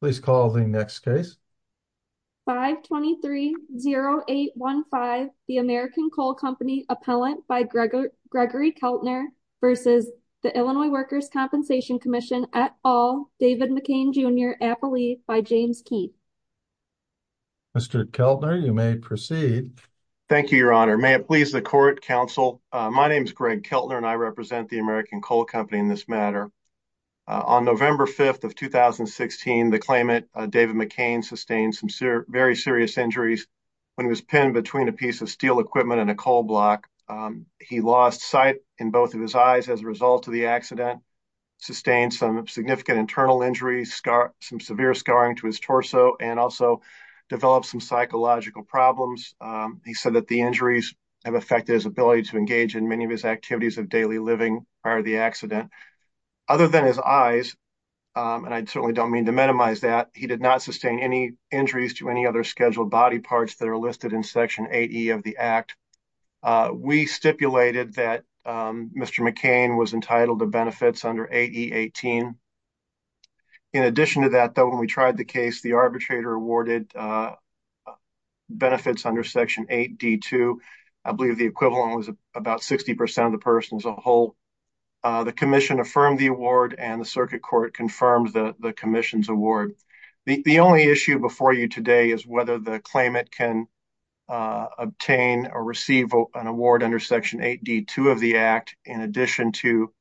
Please call the next case. 523-0815, the American Coal Company, Appellant by Gregory Keltner v. Illinois Workers' Compensation Comm'n, et al., David McCain, Jr., Appellee by James Keith. Mr. Keltner, you may proceed. Thank you, Your Honor. May it please the Court, Counsel, my name is Greg Keltner and I represent the American Coal Company in this matter. On November 5th of 2016, the claimant, David McCain, sustained some very serious injuries when he was pinned between a piece of steel equipment and a coal block. He lost sight in both of his eyes as a result of the accident, sustained some significant internal injuries, some severe scarring to his torso, and also developed some psychological problems. He said that the injuries have affected his ability to engage in many of his activities of daily living prior to the accident. Other than his eyes, and I certainly don't mean to minimize that, he did not sustain any injuries to any other scheduled body parts that are listed in Section 8E of the Act. We stipulated that Mr. McCain was entitled to benefits under 8E-18. In addition to that, though, when we tried the case, the arbitrator awarded benefits under Section 8D-2. I believe the equivalent was about 60% of the person as a whole. The Commission affirmed the award and the Circuit Court confirmed the Commission's award. The only issue before you today is whether the claimant can obtain or receive an award under Section 8D-2 of the Act, in addition to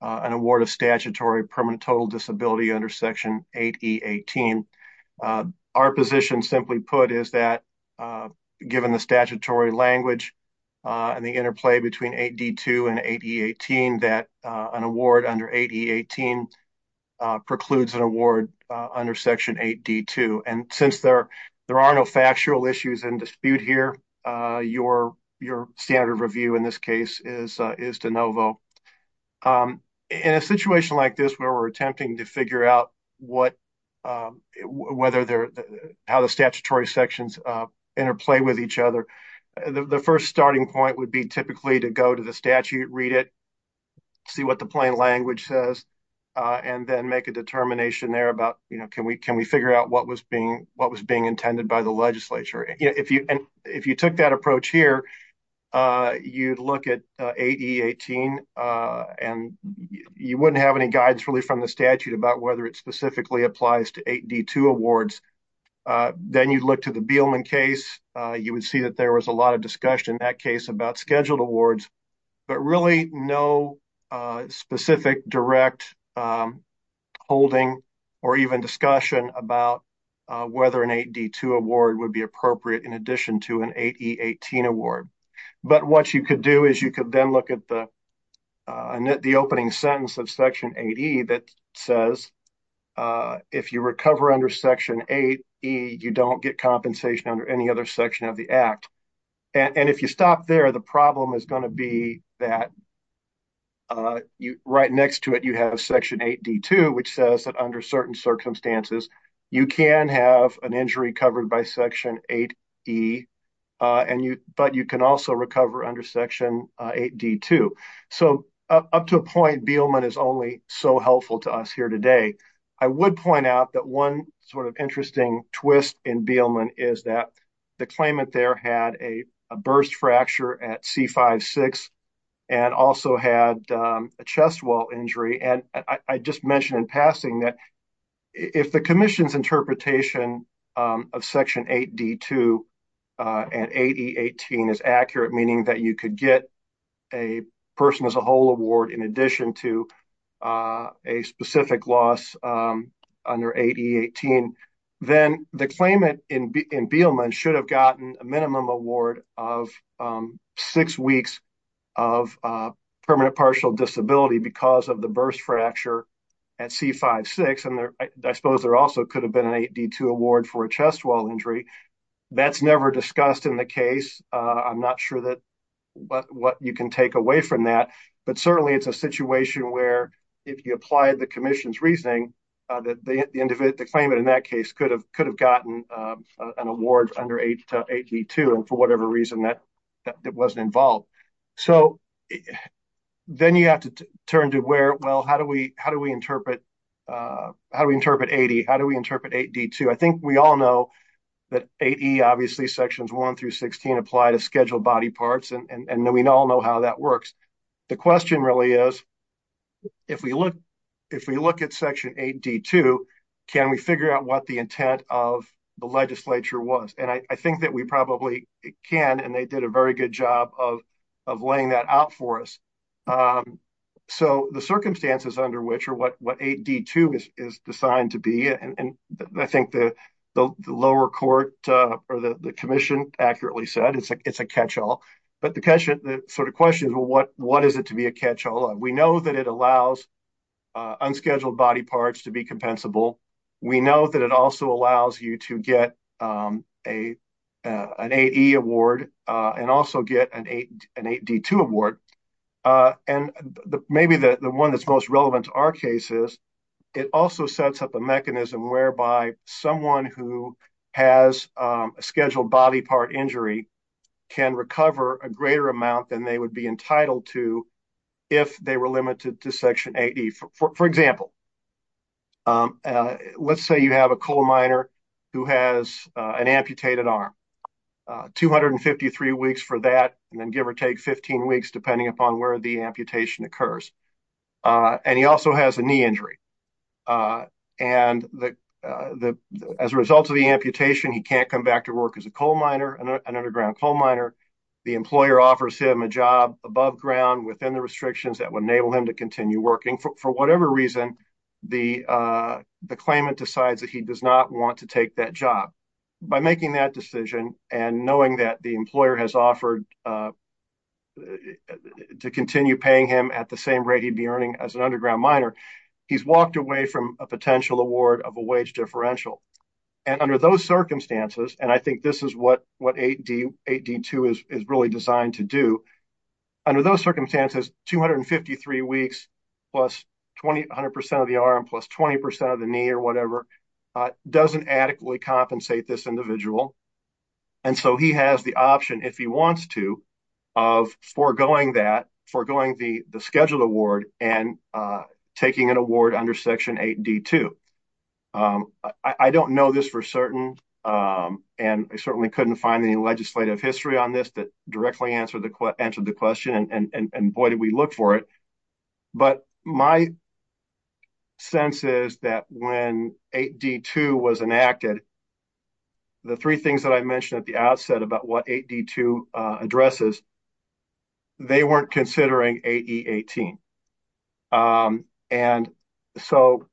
an award of statutory permanent total disability under 8E-18. Our position, simply put, is that given the statutory language and the interplay between 8D-2 and 8E-18, that an award under 8E-18 precludes an award under Section 8D-2. Since there are no factual issues in dispute here, your standard of review in this case is de novo. In a situation like this where we're attempting to figure out how the statutory sections interplay with each other, the first starting point would be typically to go to the statute, read it, see what the plain language says, and then make a determination there about can we figure out what was being intended by the legislature. If you took that approach here, you'd look at 8E-18 and you wouldn't have any guidance really from the statute about whether it specifically applies to 8D-2 awards. Then you'd look to the Beelman case. You would see that there was a lot of discussion in that case about scheduled awards, but really no specific direct holding or even discussion about whether an 8D-2 award would be appropriate in addition to an 8E-18 award. But what you could do is you could then look at the opening sentence of Section 8E that says, if you recover under Section 8E, you don't get compensation under any other section of the Act. And if you stop there, the problem is going to be that right next to it you have Section 8D-2, which says that under certain circumstances, you can have an injury covered by Section 8E, but you can also recover under Section 8D-2. So up to a point, Beelman is only so helpful to us here today. I would point out that one sort of interesting twist in Beelman is that the claimant there had a burst fracture at C-5-6 and also had a chest wall injury. And I just mentioned in passing that if the Commission's interpretation of Section 8D-2 and 8E-18 is accurate, meaning that you could get a person as a whole award in addition to a specific loss under 8E-18, then the claimant in Beelman should have gotten a minimum award of six weeks of permanent partial disability because of the burst fracture at C-5-6. And I suppose there also could have been an 8D-2 award for a chest wall injury. That's never discussed in the case. I'm not sure what you can take away from that. But certainly, it's a situation where if you apply the Commission's reasoning, the claimant in that case could have gotten an award under 8D-2 and for whatever reason that wasn't involved. So then you have to turn to where, well, how do we interpret 8E? How do we interpret 8D-2? I think we all know that 8E, obviously Sections 1 through 16 apply to scheduled body parts, and we all know how that works. The question really is if we look at Section 8D-2, can we figure out what the intent of the legislature was? And I think that we probably can, and they did a very good job of laying that out for us. So the circumstances under which or what 8D-2 is designed to be, and I think the lower court or the Commission accurately said it's a catch-all. But the question is, well, what is it to be a catch-all? We know that it allows unscheduled body parts to be compensable. We know that it also allows you to get an 8E award and also get an 8D-2 award. And maybe the one that's most relevant to our case is it also sets up a mechanism whereby someone who has a scheduled body part injury can recover a greater amount than they would be entitled to if they were limited to Section 8E. For example, let's say you have a coal miner who has an amputated arm. 253 weeks for that, and then give or take 15 weeks depending upon where the amputation occurs. And he also has a knee injury. And as a result of the amputation, he can't come back to work as an underground coal miner. The employer offers him a job above ground within the restrictions that would enable him to continue working. For whatever reason, the claimant decides that he does not want to take that job. By making that decision and knowing that the employer has offered to continue paying him at the same rate he'd be earning as an underground miner, he's walked away from a potential award of a wage differential. And under those circumstances, and I think this is what 8D-2 is really designed to do, under those circumstances, 253 weeks plus 100% of the arm plus 20% of the knee or whatever doesn't adequately compensate this individual. And so he has the option, if he wants to, of foregoing that, foregoing the scheduled award and taking an award under Section 8D-2. I don't know this for certain, and I certainly couldn't find any legislative history on this that directly answered the question, and boy, did we look for it. But my sense is that when 8D-2 was enacted, the three things that I mentioned at the outset about what 8D-2 addresses, they weren't considering 8E-18. And so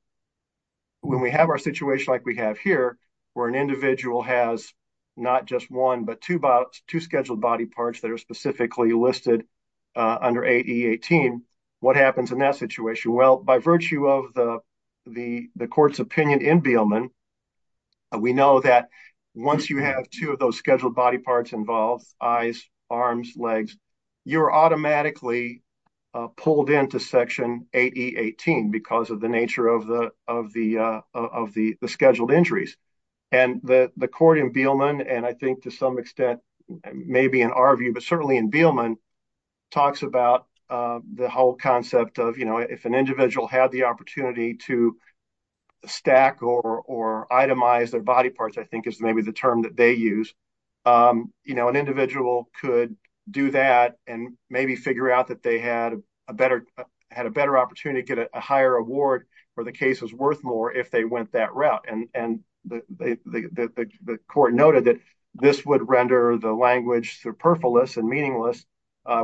when we have our situation like we have here, where an individual has not just one but two scheduled body parts that are specifically listed under 8E-18, what happens in that situation? Well, by virtue of the court's opinion in Beelman, we know that once you have two of those scheduled body parts involved, eyes, arms, legs, you're automatically pulled into Section 8E-18 because of the nature of the scheduled injuries. And the court in Beelman, and I think to some extent maybe in our view, but certainly in Beelman, talks about the whole concept of, you know, if an individual had the opportunity to stack or itemize their body parts, I think is maybe the term that they use, you know, an individual could do that and maybe figure out that they had a better opportunity to get a higher award where the case was worth more if they went that route. And the court noted that this would render the language superfluous and meaningless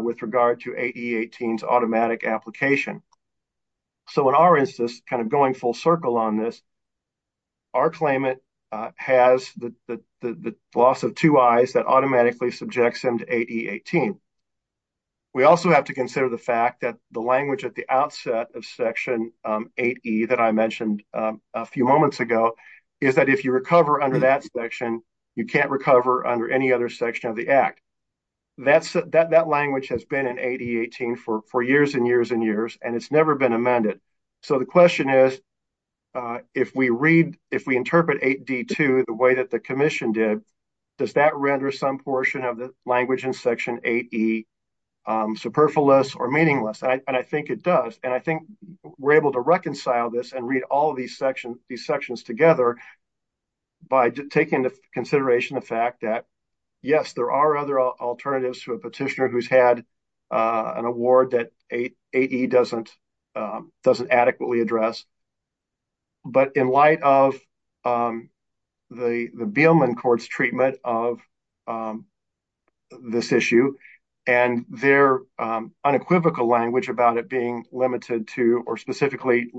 with regard to 8E-18's automatic application. So in our instance, kind of going full circle on this, our claimant has the loss of two eyes that automatically subjects them to 8E-18. We also have to consider the fact that the language at the outset of Section 8E that I mentioned a few moments ago, is that if you under any other section of the Act, that language has been in 8E-18 for years and years and years, and it's never been amended. So the question is, if we interpret 8D-2 the way that the commission did, does that render some portion of the language in Section 8E superfluous or meaningless? And I think it does. And I think we're able to reconcile this and read all of these sections together by taking into consideration the fact that yes, there are other alternatives to a petitioner who's had an award that 8E doesn't adequately address. But in light of the Beelman Court's treatment of this issue, and their unequivocal language about it being limited to, or specifically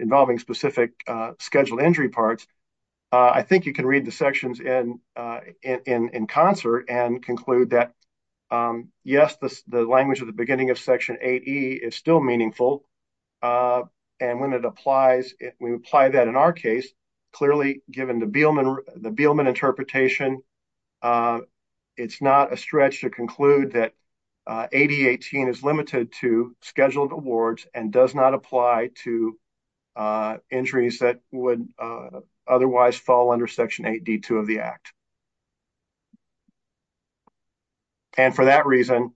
involving specific scheduled injury parts, I think you can read the sections in concert and conclude that yes, the language at the beginning of Section 8E is still meaningful. And when it applies, when we apply that in our case, clearly given the Beelman interpretation, it's not a injury that would otherwise fall under Section 8D-2 of the Act. And for that reason,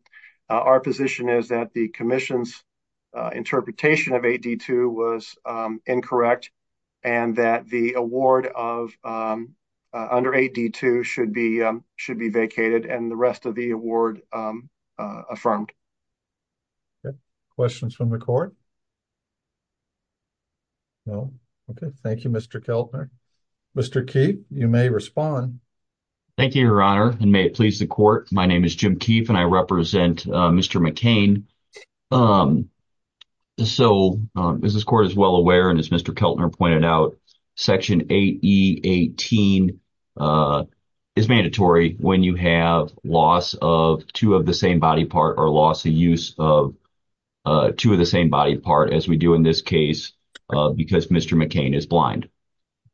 our position is that the commission's interpretation of 8D-2 was incorrect, and that the award under 8D-2 should be vacated and the rest of the award affirmed. Okay. Questions from the Court? No? Okay. Thank you, Mr. Keltner. Mr. Keefe, you may respond. Thank you, Your Honor, and may it please the Court. My name is Jim Keefe, and I represent Mr. McCain. So, as this Court is well aware, and as Mr. Keltner pointed out, Section 8E-18 is mandatory when you have loss of two of the same body part or loss of use of two of the same body part, as we do in this case, because Mr. McCain is blind.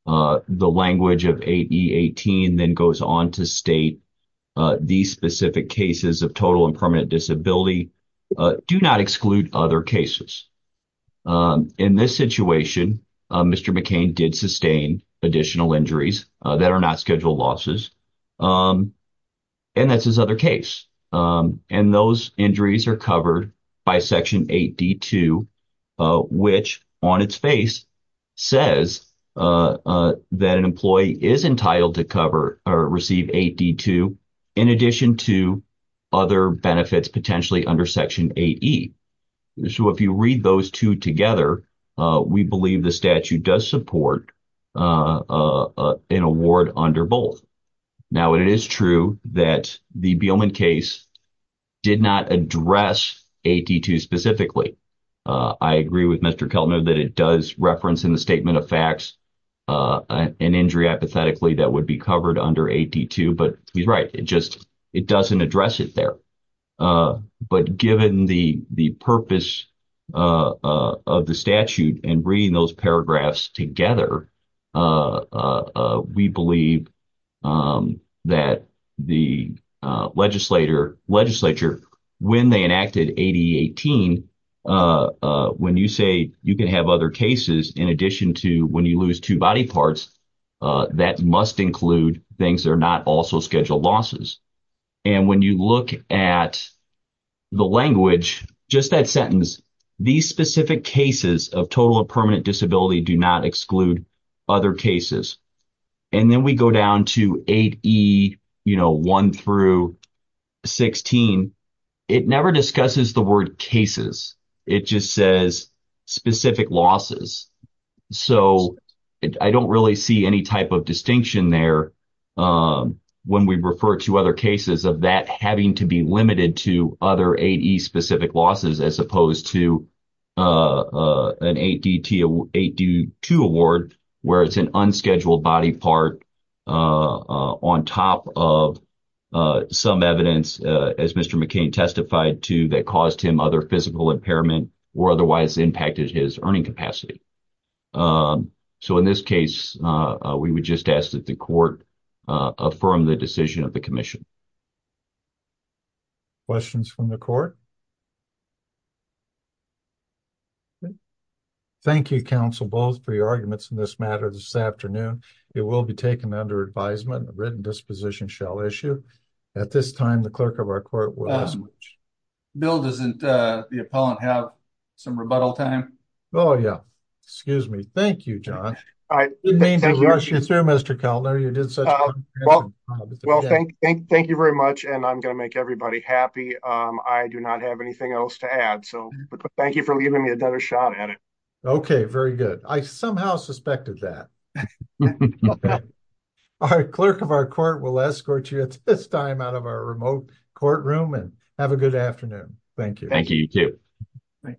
The language of 8E-18 then goes on to state these specific cases of total and permanent disability do not exclude other cases. In this situation, Mr. McCain did sustain additional injuries, that are not scheduled losses, and that's his other case. And those injuries are covered by Section 8D-2, which on its face says that an employee is entitled to cover or receive 8D-2 in addition to other benefits potentially under Section 8E. So, if you read those two together, we believe the statute does support an award under both. Now, it is true that the Beelman case did not address 8D-2 specifically. I agree with Mr. Keltner that it does reference in the statement of facts an injury hypothetically that would be covered under 8D-2, but he's right. It just doesn't address it there. But given the purpose of the statute and reading those paragraphs together, we believe that the legislature, when they enacted 8E-18, when you say you can have other cases in addition to when you lose two body parts, that must include things that are not also scheduled losses. And when you look at the language, just that sentence, these specific cases of total or permanent disability do not exclude other cases. And then we go down to 8E, you know, 1 through 16. It never discusses the word cases. It just says specific losses. So, I don't really see any type of distinction there when we refer to other cases of that having to be limited to other 8E specific losses as opposed to an 8D-2 award where it's an unscheduled body part on top of some evidence, as Mr. McCain testified to, that caused him other impairment or otherwise impacted his earning capacity. So, in this case, we would just ask that the court affirm the decision of the commission. Questions from the court? Thank you, Counsel Bowles, for your arguments in this matter this afternoon. It will be taken under advisement. A written disposition shall issue. At this time, the clerk of our court will escort you. Bill, doesn't the appellant have some rebuttal time? Oh, yeah. Excuse me. Thank you, John. I didn't mean to rush you through, Mr. Keltner. You did such a wonderful job. Well, thank you very much. And I'm going to make everybody happy. I do not have anything else to add. So, thank you for leaving me another shot at it. Okay, very good. I somehow suspected that. Okay. Our clerk of our court will escort you at this time out of our remote courtroom. And have a good afternoon. Thank you. Thank you, you too. Thank you.